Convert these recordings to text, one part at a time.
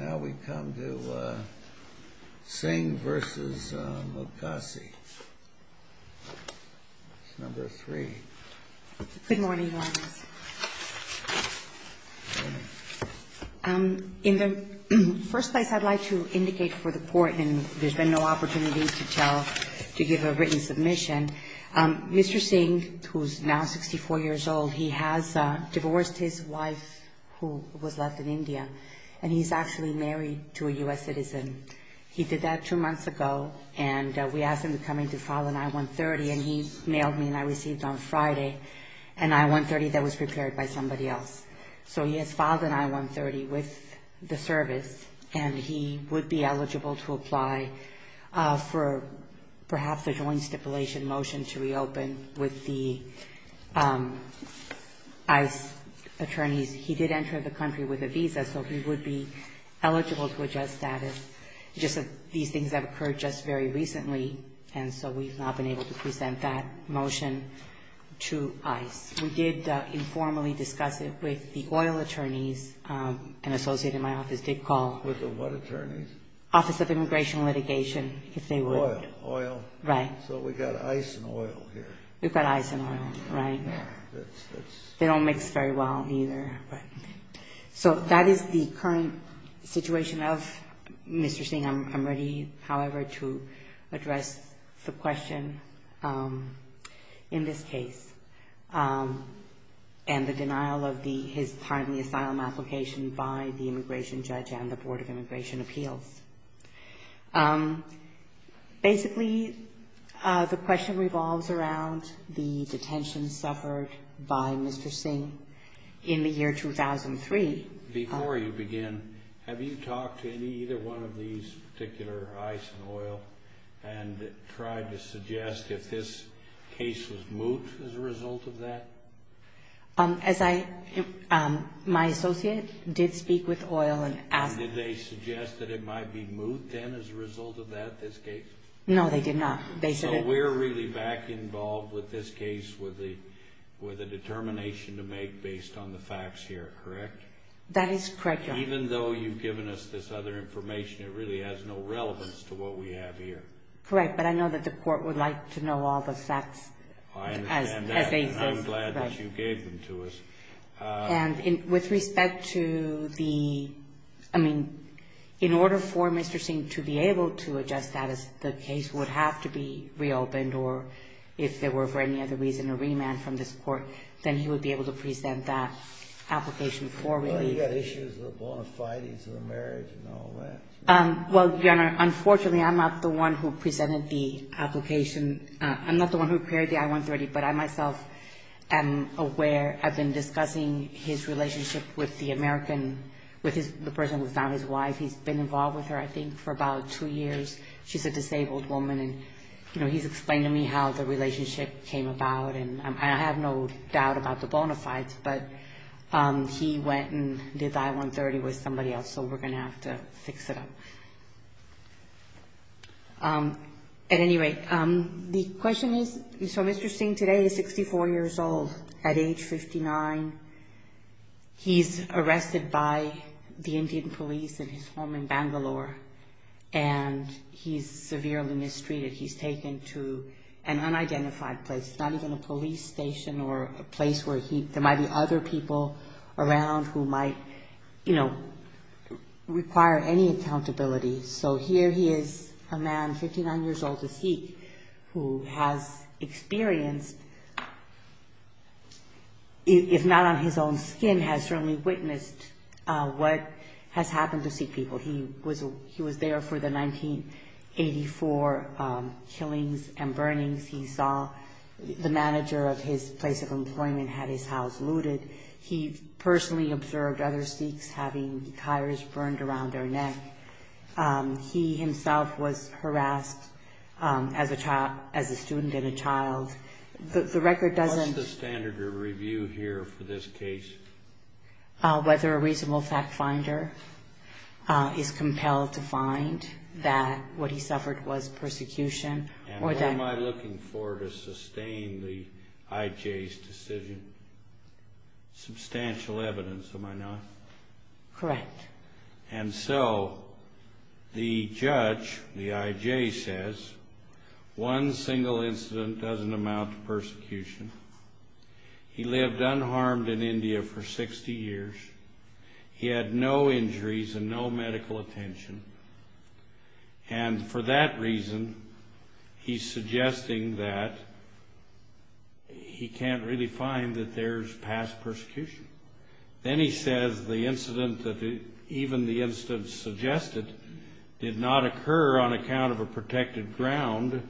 Now we come to Singh v. Mukasi, number three. Good morning, Your Honor. Good morning. In the first place, I'd like to indicate for the Court, and there's been no opportunity to tell, to give a written submission, and Mr. Singh, who's now 64 years old, he has divorced his wife, who was left in India, and he's actually married to a U.S. citizen. He did that two months ago, and we asked him to come in to file an I-130, and he mailed me and I received on Friday an I-130 that was prepared by somebody else. So he has filed an I-130 with the service, and he would be eligible to apply for perhaps a joint stipulation motion to reopen with the ICE attorneys. He did enter the country with a visa, so he would be eligible to adjust status. Just that these things have occurred just very recently, and so we've not been able to present that motion to ICE. We did informally discuss it with the oil attorneys. An associate in my office did call. With the what attorneys? Office of Immigration Litigation, if they would. Oil, oil. Right. So we've got ICE and oil here. We've got ICE and oil, right. They don't mix very well either. So that is the current situation of Mr. Singh. I'm ready, however, to address the question in this case and the denial of his part in the asylum application by the immigration judge and the Board of Immigration Appeals. Basically, the question revolves around the detention suffered by Mr. Singh in the year 2003. Before you begin, have you talked to any, either one of these particular ICE and oil and tried to suggest if this case was moot as a result of that? As I, my associate did speak with oil and asked. Did they suggest that it might be moot then as a result of that, this case? No, they did not. So we're really back involved with this case with a determination to make based on the facts here, correct? That is correct, Your Honor. Even though you've given us this other information, it really has no relevance to what we have here. Correct, but I know that the court would like to know all the facts as they exist. I understand that, and I'm glad that you gave them to us. And with respect to the, I mean, in order for Mr. Singh to be able to adjust that as the case would have to be reopened or if there were, for any other reason, a remand from this court, then he would be able to present that application for release. Well, you've got issues with the bona fides of the marriage and all that. Well, Your Honor, unfortunately, I'm not the one who presented the application. I'm not the one who prepared the I-130, but I myself am aware. I've been discussing his relationship with the American, with the person who's now his wife. He's been involved with her, I think, for about two years. She's a disabled woman, and, you know, he's explained to me how the relationship came about. And I have no doubt about the bona fides, but he went and did the I-130 with somebody else, so we're going to have to fix it up. At any rate, the question is, so Mr. Singh today is 64 years old at age 59. He's arrested by the Indian police in his home in Bangalore, and he's severely mistreated. He's taken to an unidentified place. It's not even a police station or a place where there might be other people around who might, you know, require any accountability. So here he is, a man 59 years old, a Sikh, who has experienced, if not on his own skin, has certainly witnessed what has happened to Sikh people. He was there for the 1984 killings and burnings. He saw the manager of his place of employment had his house looted. He personally observed other Sikhs having tires burned around their neck. He himself was harassed as a student and a child. The record doesn't- What's the standard of review here for this case? Whether a reasonable fact finder is compelled to find that what he suffered was persecution or that- And what am I looking for to sustain the IJ's decision? Substantial evidence, am I not? Correct. And so the judge, the IJ, says one single incident doesn't amount to persecution. He lived unharmed in India for 60 years. He had no injuries and no medical attention. And for that reason, he's suggesting that he can't really find that there's past persecution. Then he says the incident that- Even the instance suggested did not occur on account of a protected ground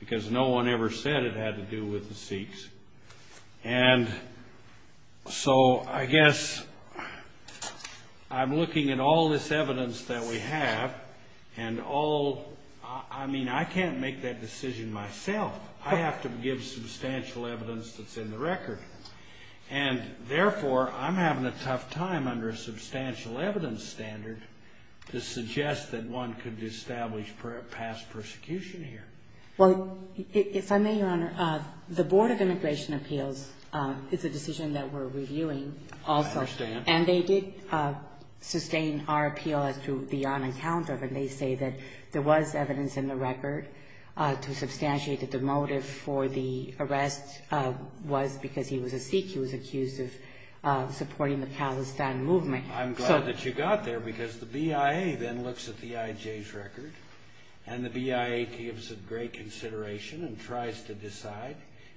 because no one ever said it had to do with the Sikhs. And so I guess I'm looking at all this evidence that we have and all- I mean, I can't make that decision myself. I have to give substantial evidence that's in the record. And therefore, I'm having a tough time under a substantial evidence standard to suggest that one could establish past persecution here. Well, if I may, Your Honor, the Board of Immigration Appeals is a decision that we're reviewing also. I understand. And they did sustain our appeal as to the on account of it. They say that there was evidence in the record to substantiate that the motive for the arrest was because he was a Sikh. He was accused of supporting the Palestine movement. I'm glad that you got there because the BIA then looks at the IJ's record. And the BIA gives it great consideration and tries to decide.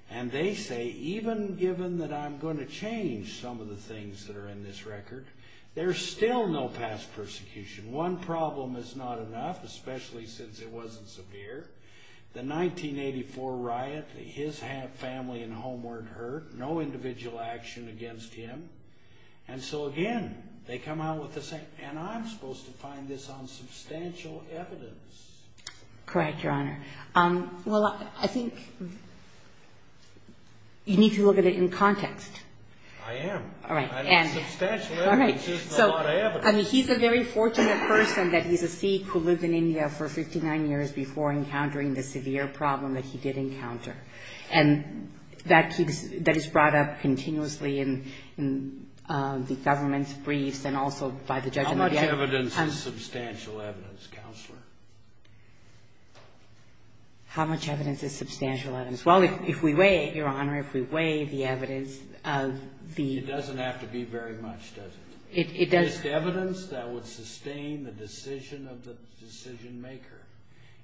And they say, even given that I'm going to change some of the things that are in this record, there's still no past persecution. One problem is not enough, especially since it wasn't severe. The 1984 riot, his family and home weren't hurt. No individual action against him. And so, again, they come out with the same- and I'm supposed to find this on substantial evidence. Correct, Your Honor. Well, I think you need to look at it in context. I am. All right. Substantial evidence isn't a lot of evidence. I mean, he's a very fortunate person that he's a Sikh who lived in India for 59 years before encountering the severe problem that he did encounter. And that is brought up continuously in the government's briefs and also by the judge in the BIA. How much evidence is substantial evidence, Counselor? How much evidence is substantial evidence? Well, if we weigh, Your Honor, if we weigh the evidence of the- It doesn't have to be very much, does it? It does- Just evidence that would sustain the decision of the decision-maker.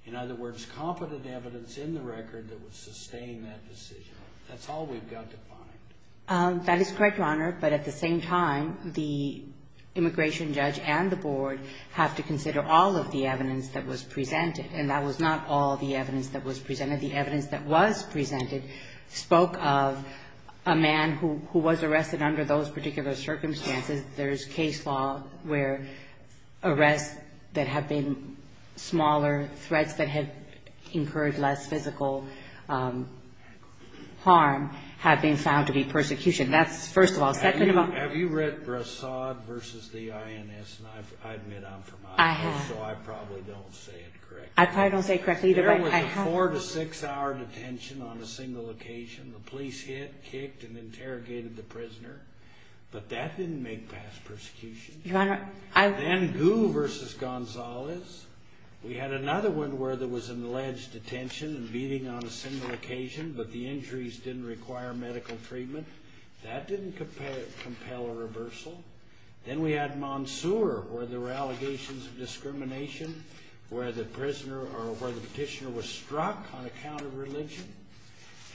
In other words, competent evidence in the record that would sustain that decision. That's all we've got to find. That is correct, Your Honor. But at the same time, the immigration judge and the board have to consider all of the evidence that was presented. And that was not all the evidence that was presented. The evidence that was presented spoke of a man who was arrested under those particular circumstances. There's case law where arrests that have been smaller, threats that have incurred less physical harm have been found to be persecution. That's first of all. Second of all- Have you read Brassad v. the INS? And I admit I'm from INS, so I probably don't say it correctly. There was a four- to six-hour detention on a single occasion. The police hit, kicked, and interrogated the prisoner. But that didn't make past persecution. Your Honor, I- Then Gu v. Gonzalez. We had another one where there was an alleged detention and beating on a single occasion, but the injuries didn't require medical treatment. That didn't compel a reversal. Then we had Monsoor, where there were allegations of discrimination, where the prisoner or where the petitioner was struck on account of religion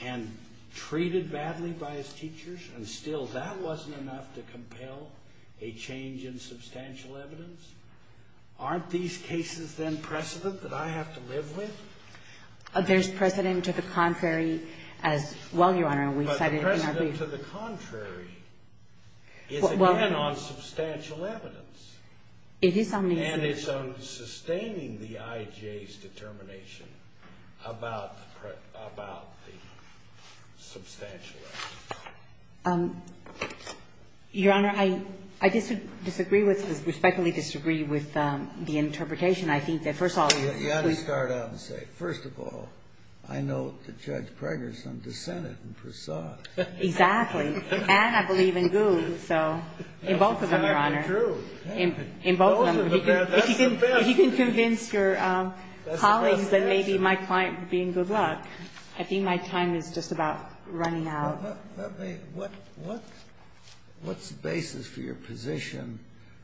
and treated badly by his teachers, and still that wasn't enough to compel a change in substantial evidence. Aren't these cases, then, precedent that I have to live with? There's precedent to the contrary as well, Your Honor, and we cited it in our brief. Precedent to the contrary is again on substantial evidence. It is on substantial evidence. And it's on sustaining the IJ's determination about the substantial evidence. Your Honor, I disagree with, respectfully disagree with the interpretation. I think that, first of all- You ought to start out and say, first of all, I know that Judge Preggerson dissented in Brassad. Exactly. And I believe in Gould, so in both of them, Your Honor. That's exactly true. In both of them. Both of them. That's the best. If you can convince your colleagues, then maybe my client would be in good luck. I think my time is just about running out. What's the basis for your position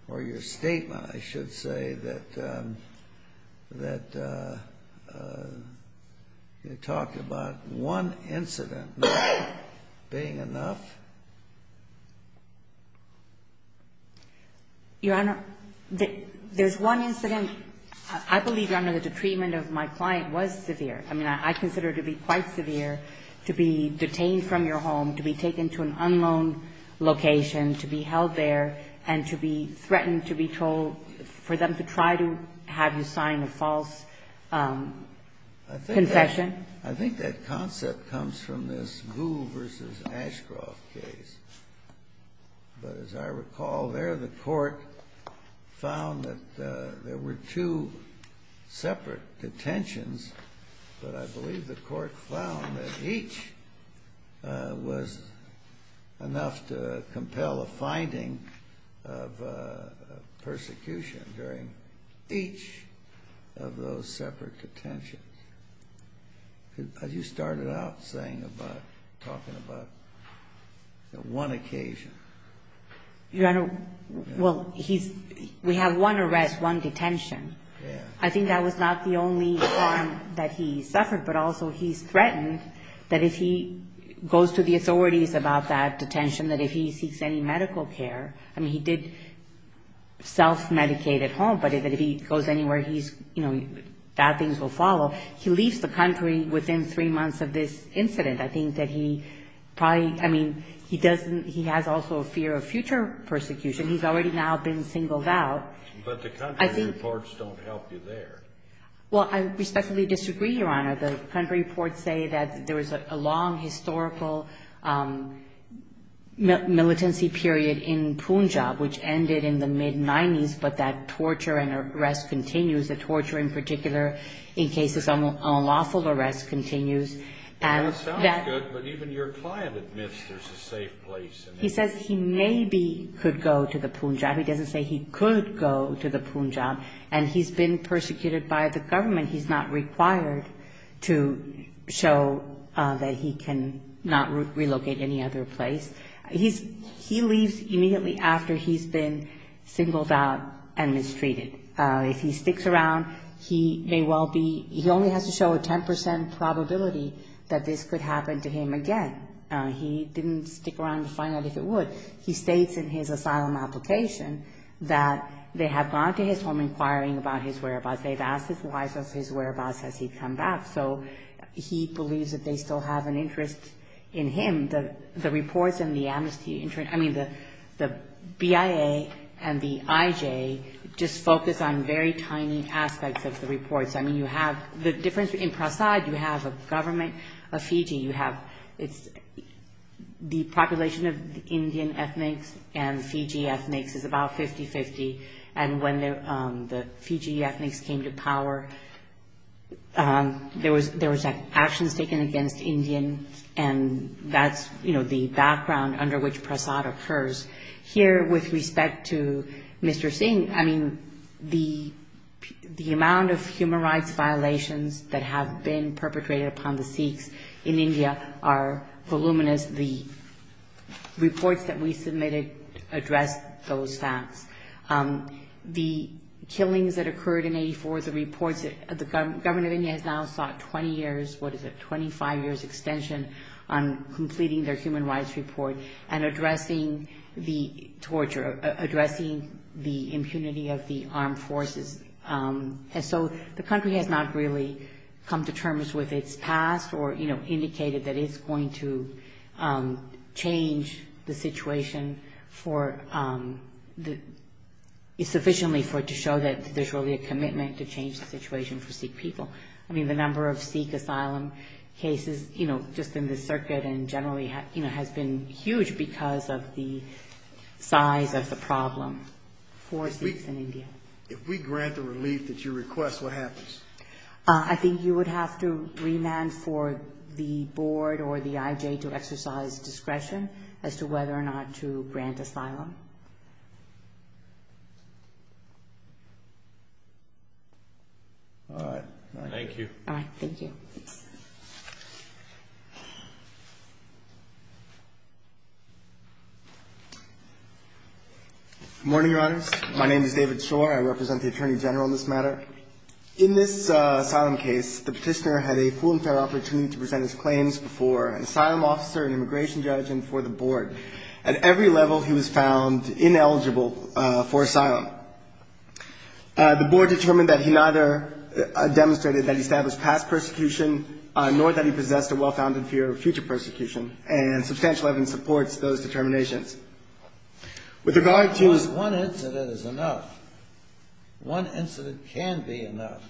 or your statement, I should say, that you talked about one incident not being enough? Your Honor, there's one incident. I believe, Your Honor, that the treatment of my client was severe. I mean, I consider it to be quite severe to be detained from your home, to be taken to an unknown location, to be held there, and to be threatened, to be told, for them to try to have you sign a false confession. I think that concept comes from this Gould v. Ashcroft case. But as I recall, there the court found that there were two separate detentions, but I believe the court found that each was enough to compel a finding of persecution during each of those separate detentions. As you started out talking about one occasion. Your Honor, well, we have one arrest, one detention. I think that was not the only harm that he suffered, but also he's threatened that if he goes to the authorities about that detention, that if he seeks any medical care, I mean, he did self-medicate at home, but if he goes anywhere, bad things will follow. He leaves the country within three months of this incident. I think that he probably, I mean, he has also a fear of future persecution. He's already now been singled out. But the country reports don't help you there. Well, I respectfully disagree, Your Honor. The country reports say that there was a long historical militancy period in Punjab, which ended in the mid-'90s, but that torture and arrest continues, the torture in particular in cases of unlawful arrest continues. That sounds good, but even your client admits there's a safe place. He says he maybe could go to the Punjab. He doesn't say he could go to the Punjab. And he's been persecuted by the government. He's not required to show that he cannot relocate any other place. He leaves immediately after he's been singled out and mistreated. If he sticks around, he may well be, he only has to show a 10 percent probability that this could happen to him again. He didn't stick around to find out if it would. He states in his asylum application that they have gone to his home inquiring about his whereabouts. They've asked his wife of his whereabouts as he'd come back. So he believes that they still have an interest in him. The reports in the Amnesty International, I mean, the BIA and the IJ just focus on very tiny aspects of the reports. I mean, you have the difference in Prasad. You have a government of Fiji. You have the population of Indian ethnics and Fiji ethnics is about 50-50. And when the Fiji ethnics came to power, there was actions taken against Indian and that's, you know, the background under which Prasad occurs. Here with respect to Mr. Singh, I mean, the amount of human rights violations that have been perpetrated upon the Sikhs in India are voluminous. The reports that we submitted address those facts. The killings that occurred in 1984, the reports that the government of India has now sought 20 years, what is it, 25 years extension on completing their human rights report and addressing the torture, addressing the impunity of the armed forces. And so the country has not really come to terms with its past or, you know, indicated that it's going to change the situation for the, sufficiently for it to show that there's really a commitment to change the situation for Sikh people. I mean, the number of Sikh asylum cases, you know, just in the circuit and generally, you know, has been huge because of the size of the problem for Sikhs in India. If we grant the relief that you request, what happens? I think you would have to remand for the board or the IJ to exercise discretion as to whether or not to grant asylum. All right. Thank you. Morning, Your Honors. My name is David Shore. I represent the Attorney General in this matter. In this asylum case, the petitioner had a full and fair opportunity to present his claims before an asylum officer, an immigration judge, and for the board. At every level, he was found ineligible for asylum. The board determined that he neither demonstrated that he established past persecution, nor that he possessed a well-founded fear of future persecution, and substantial evidence supports those determinations. One incident is enough. One incident can be enough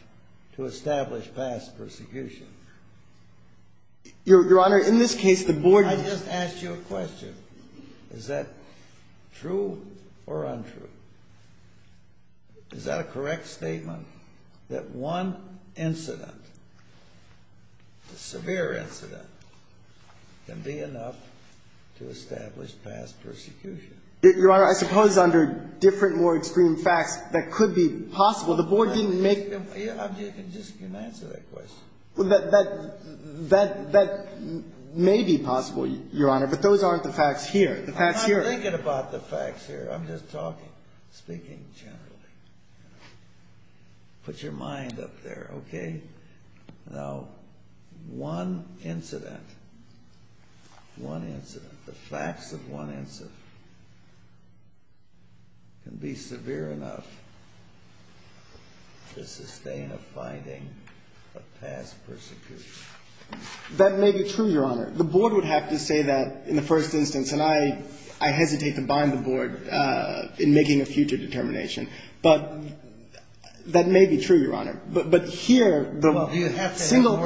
to establish past persecution. Your Honor, in this case, the board... I just asked you a question. Is that true or untrue? Is that a correct statement, that one incident, a severe incident, can be enough to establish past persecution? Your Honor, I suppose under different, more extreme facts, that could be possible. The board didn't make... You can answer that question. That may be possible, Your Honor, but those aren't the facts here. I'm not thinking about the facts here. I'm just talking, speaking generally. Put your mind up there, okay? Now, one incident, the facts of one incident, can be severe enough to sustain a finding of past persecution. That may be true, Your Honor. The board would have to say that in the first instance, and I hesitate to bind the board in making a future determination, but that may be true, Your Honor, but here, the single...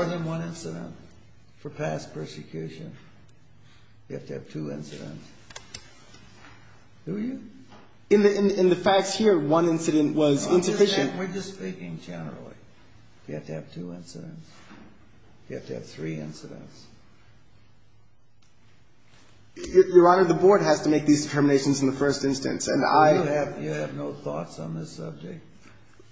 In the facts here, one incident was insufficient. We're just speaking generally. You have to have two incidents. You have to have three incidents. Your Honor, the board has to make these determinations in the first instance, and I... You have no thoughts on this subject.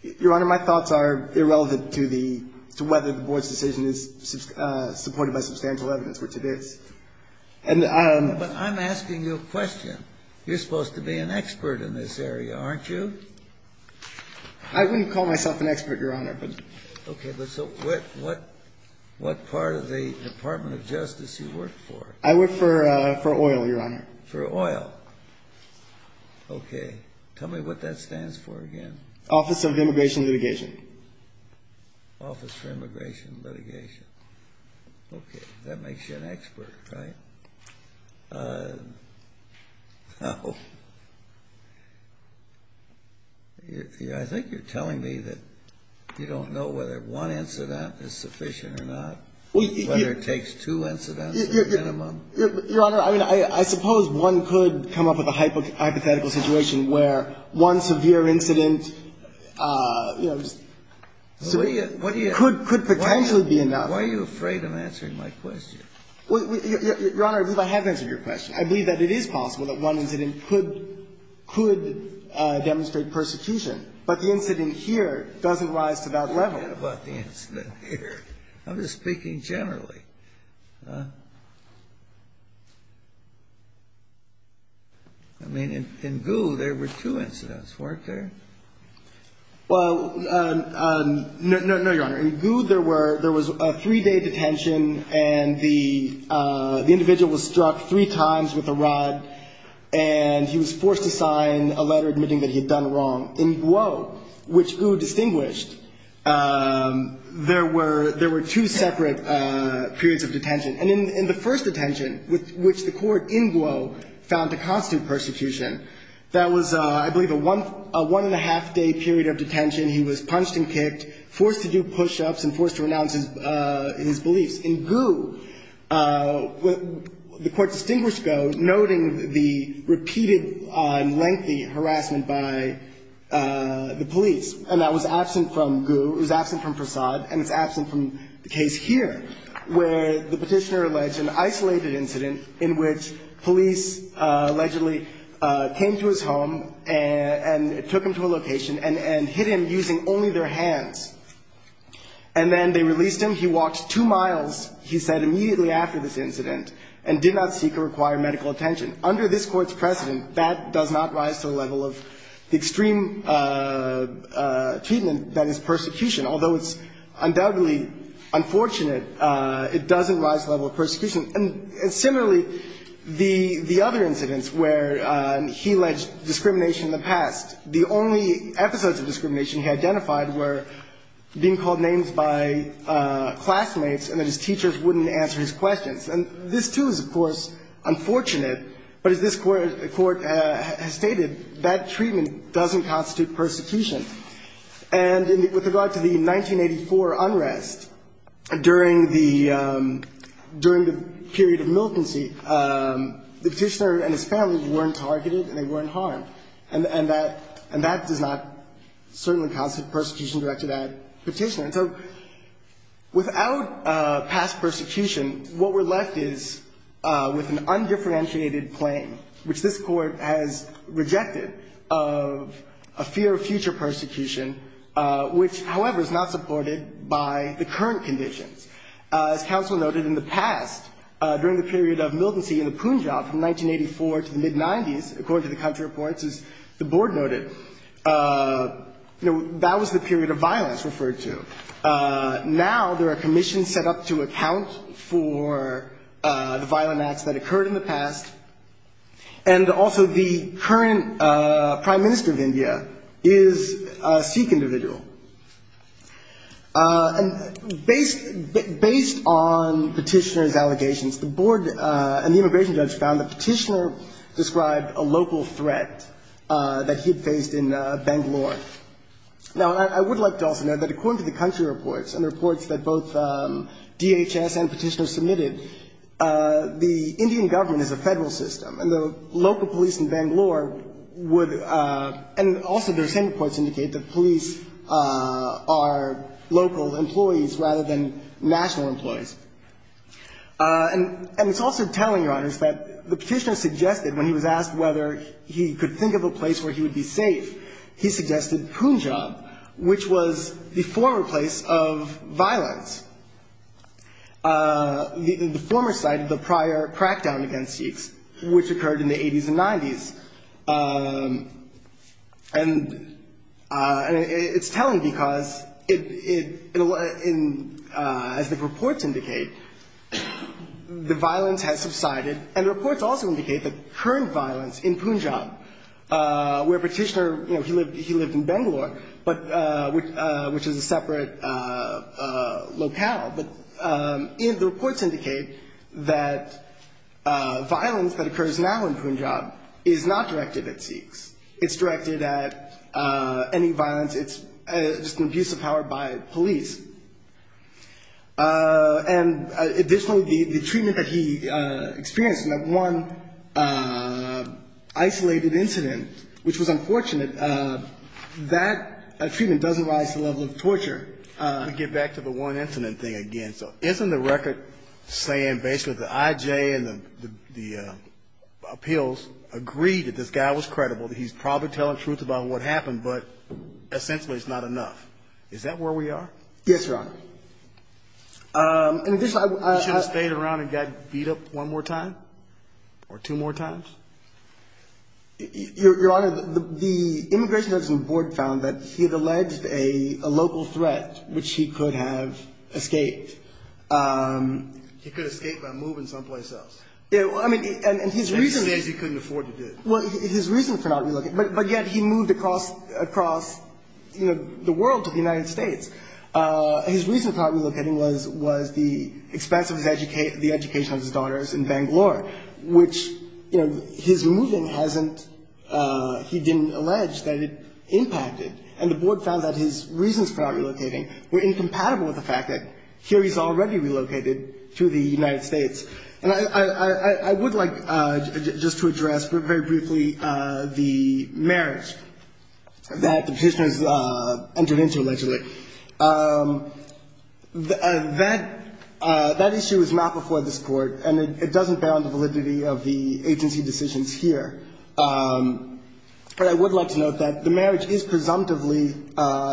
Your Honor, my thoughts are irrelevant to the... to whether the board's decision is supported by substantial evidence, which it is. But I'm asking you a question. You're supposed to be an expert in this area, aren't you? I wouldn't call myself an expert, Your Honor, but... Okay, but so what part of the Department of Justice you work for? I work for oil, Your Honor. For oil. Okay. Tell me what that stands for again. Office of Immigration and Litigation. Office for Immigration and Litigation. Okay, that makes you an expert, right? No. I think you're telling me that you don't know whether one incident is sufficient or not, whether it takes two incidents to the minimum. Your Honor, I mean, I suppose one could come up with a hypothetical situation where one severe incident, you know, could potentially be enough. Why are you afraid of answering my question? Your Honor, I believe I have answered your question. I believe that it is possible that one incident could demonstrate persecution, but the incident here doesn't rise to that level. I don't care about the incident here. I'm just speaking generally. I mean, in Goo, there were two incidents, weren't there? Well, no, Your Honor. In Goo, there was a three-day detention, and the individual was struck three times with a rod, and he was forced to sign a letter admitting that he had done wrong. In Guo, which Goo distinguished, there were two separate periods of detention. And in the first detention, which the court in Guo found to constitute persecution, that was, I believe, a one-and-a-half-day period of detention. He was punched and kicked, forced to do push-ups, and forced to renounce his beliefs. In Goo, the court distinguished Guo, noting the repeated lengthy harassment by the police, and that was absent from Goo. It was absent from Frasad, and it's absent from the case here, where the petitioner alleged an isolated incident in which police allegedly came to his home and took him to a location and hit him using only their hands. And then they released him. He walked two miles, he said, immediately after this incident, and did not seek or require medical attention. Under this Court's precedent, that does not rise to the level of the extreme treatment that is persecution, although it's undoubtedly unfortunate it doesn't rise to the level of persecution. And similarly, the other incidents where he alleged discrimination in the past, the only episodes of discrimination he identified were being called names by classmates and that his teachers wouldn't answer his questions. And this, too, is, of course, unfortunate, but as this Court has stated, that treatment doesn't constitute persecution. And with regard to the 1984 unrest, during the period of militancy, the petitioner and his family weren't targeted and they weren't harmed. And that does not certainly constitute persecution directed at the petitioner. So without past persecution, what we're left is with an undifferentiated claim, which this Court has rejected, of a fear of future persecution, which, however, is not supported by the current conditions. As counsel noted, in the past, during the period of militancy in the Punjab, from 1984 to the mid-'90s, according to the country reports, as the Board noted, that was the period of violence referred to. Now there are commissions set up to account for the violent acts that occurred in the past. And also the current Prime Minister of India is a Sikh individual. And based on petitioner's allegations, the Board and the immigration judge found the petitioner described a local threat that he had faced in Bangalore. Now I would like to also note that according to the country reports and the reports that both DHS and petitioners submitted, the Indian government is a federal system. And the local police in Bangalore would – and also their same reports indicate that police are local employees rather than national employees. And it's also telling, Your Honors, that the petitioner suggested, when he was asked whether he could think of a place where he would be safe, he suggested Punjab, which was the former place of violence. The former site of the prior crackdown against Sikhs, which occurred in the 80s and 90s. And it's telling because it – as the reports indicate, the violence has subsided. And the reports also indicate the current violence in Punjab, where petitioner – I don't know how, but the reports indicate that violence that occurs now in Punjab is not directed at Sikhs. It's directed at any violence. It's just an abuse of power by police. And additionally, the treatment that he experienced in that one isolated incident, which was unfortunate, that treatment doesn't rise to the level of torture. We get back to the one incident thing again. So isn't the record saying basically the IJ and the appeals agreed that this guy was credible, that he's probably telling the truth about what happened, but essentially it's not enough? Is that where we are? Yes, Your Honor. And additionally, I – He should have stayed around and got beat up one more time or two more times? Your Honor, the Immigration Judicial Board found that he had alleged a local threat, which he could have escaped. He could have escaped by moving someplace else. Yeah, well, I mean, and his reason – Which he says he couldn't afford to do. Well, his reason for not relocating – but yet he moved across, you know, the world to the United States. His reason for not relocating was the expense of the education of his daughters in Bangalore, which, you know, his moving hasn't – he didn't allege that it impacted. And the Board found that his reasons for not relocating were incompatible with the fact that here he's already relocated to the United States. And I would like just to address very briefly the merits that the Petitioners entered into allegedly. That issue is not before this Court, and it doesn't bear on the validity of the agency decisions here. But I would like to note that the marriage is presumptively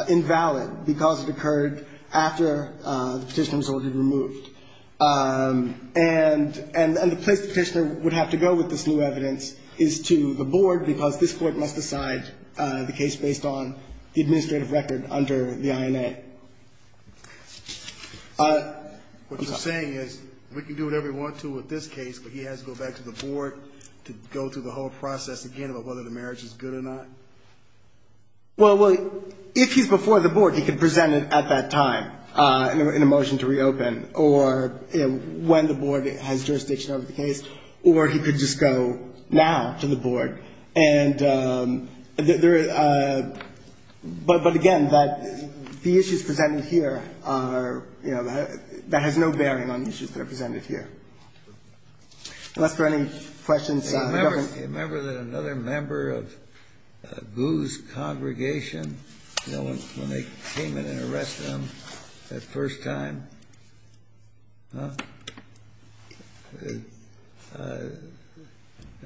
invalid because it occurred after the Petitioner was ordered removed. And the place the Petitioner would have to go with this new evidence is to the Board, because this Court must decide the case based on the administrative record under the INA. What you're saying is we can do whatever we want to with this case, but he has to go back to the Board to go through the whole process again about whether the marriage is good or not? Well, if he's before the Board, he can present it at that time in a motion to reopen, or when the Board has jurisdiction over the case, or he could just go now to the Board. But again, the issues presented here are, you know, that has no bearing on the issues that are presented here. Unless there are any questions. Remember that another member of Gu's congregation, you know, when they came in and arrested him that first time? Huh?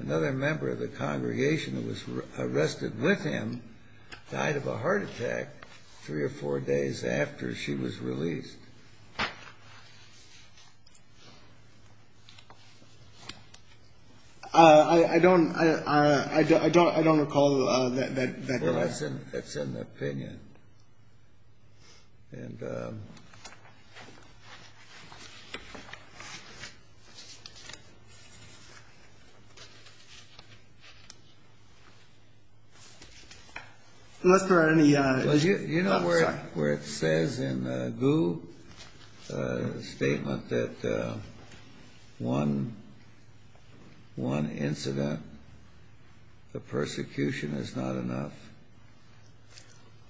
Another member of the congregation that was arrested with him died of a heart attack three or four days after she was released. I don't recall that. Well, that's an opinion. And unless there are any others. You know where it says in Gu's statement that one incident, the persecution is not enough?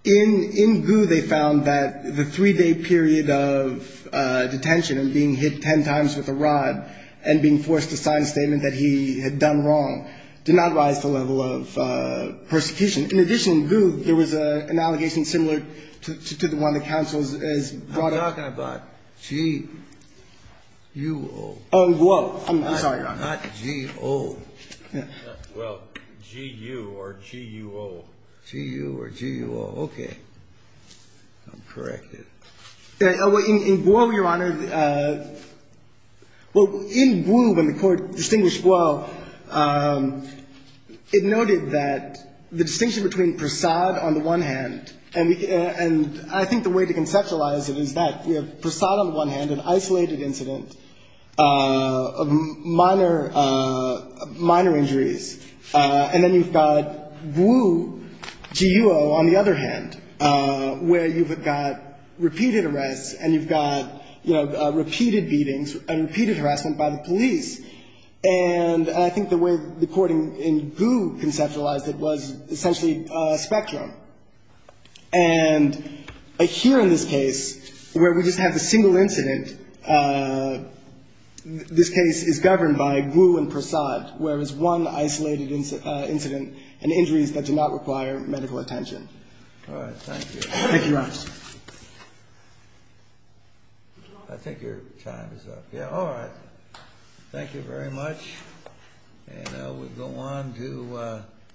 In Gu, they found that the three-day period of detention and being hit ten times with a rod and being forced to sign a statement that he had done wrong did not rise to the level of persecution. In addition, in Gu, there was an allegation similar to the one that counsel has brought up. I'm talking about G-U-O. Oh, in Guo. I'm sorry, Your Honor. Not G-O. Well, G-U or G-U-O. G-U or G-U-O. Okay. I'll correct it. In Guo, Your Honor, in Gu, when the court distinguished Guo, it noted that the distinction between Prasad on the one hand, and I think the way to conceptualize it is that we have Prasad on one hand, an isolated incident of minor injuries, and then you've got Gu, G-U-O, on the other hand, where you've got repeated arrests and you've got repeated beatings and repeated harassment by the police. And I think the way the court in Gu conceptualized it was essentially a spectrum. And here in this case, where we just have the single incident, this case is governed by Gu and Prasad, whereas one isolated incident and injuries that do not require medical attention. All right. Thank you. Thank you, Your Honor. I think your time is up. Yeah. All right. Thank you very much. And we'll go on to the next case.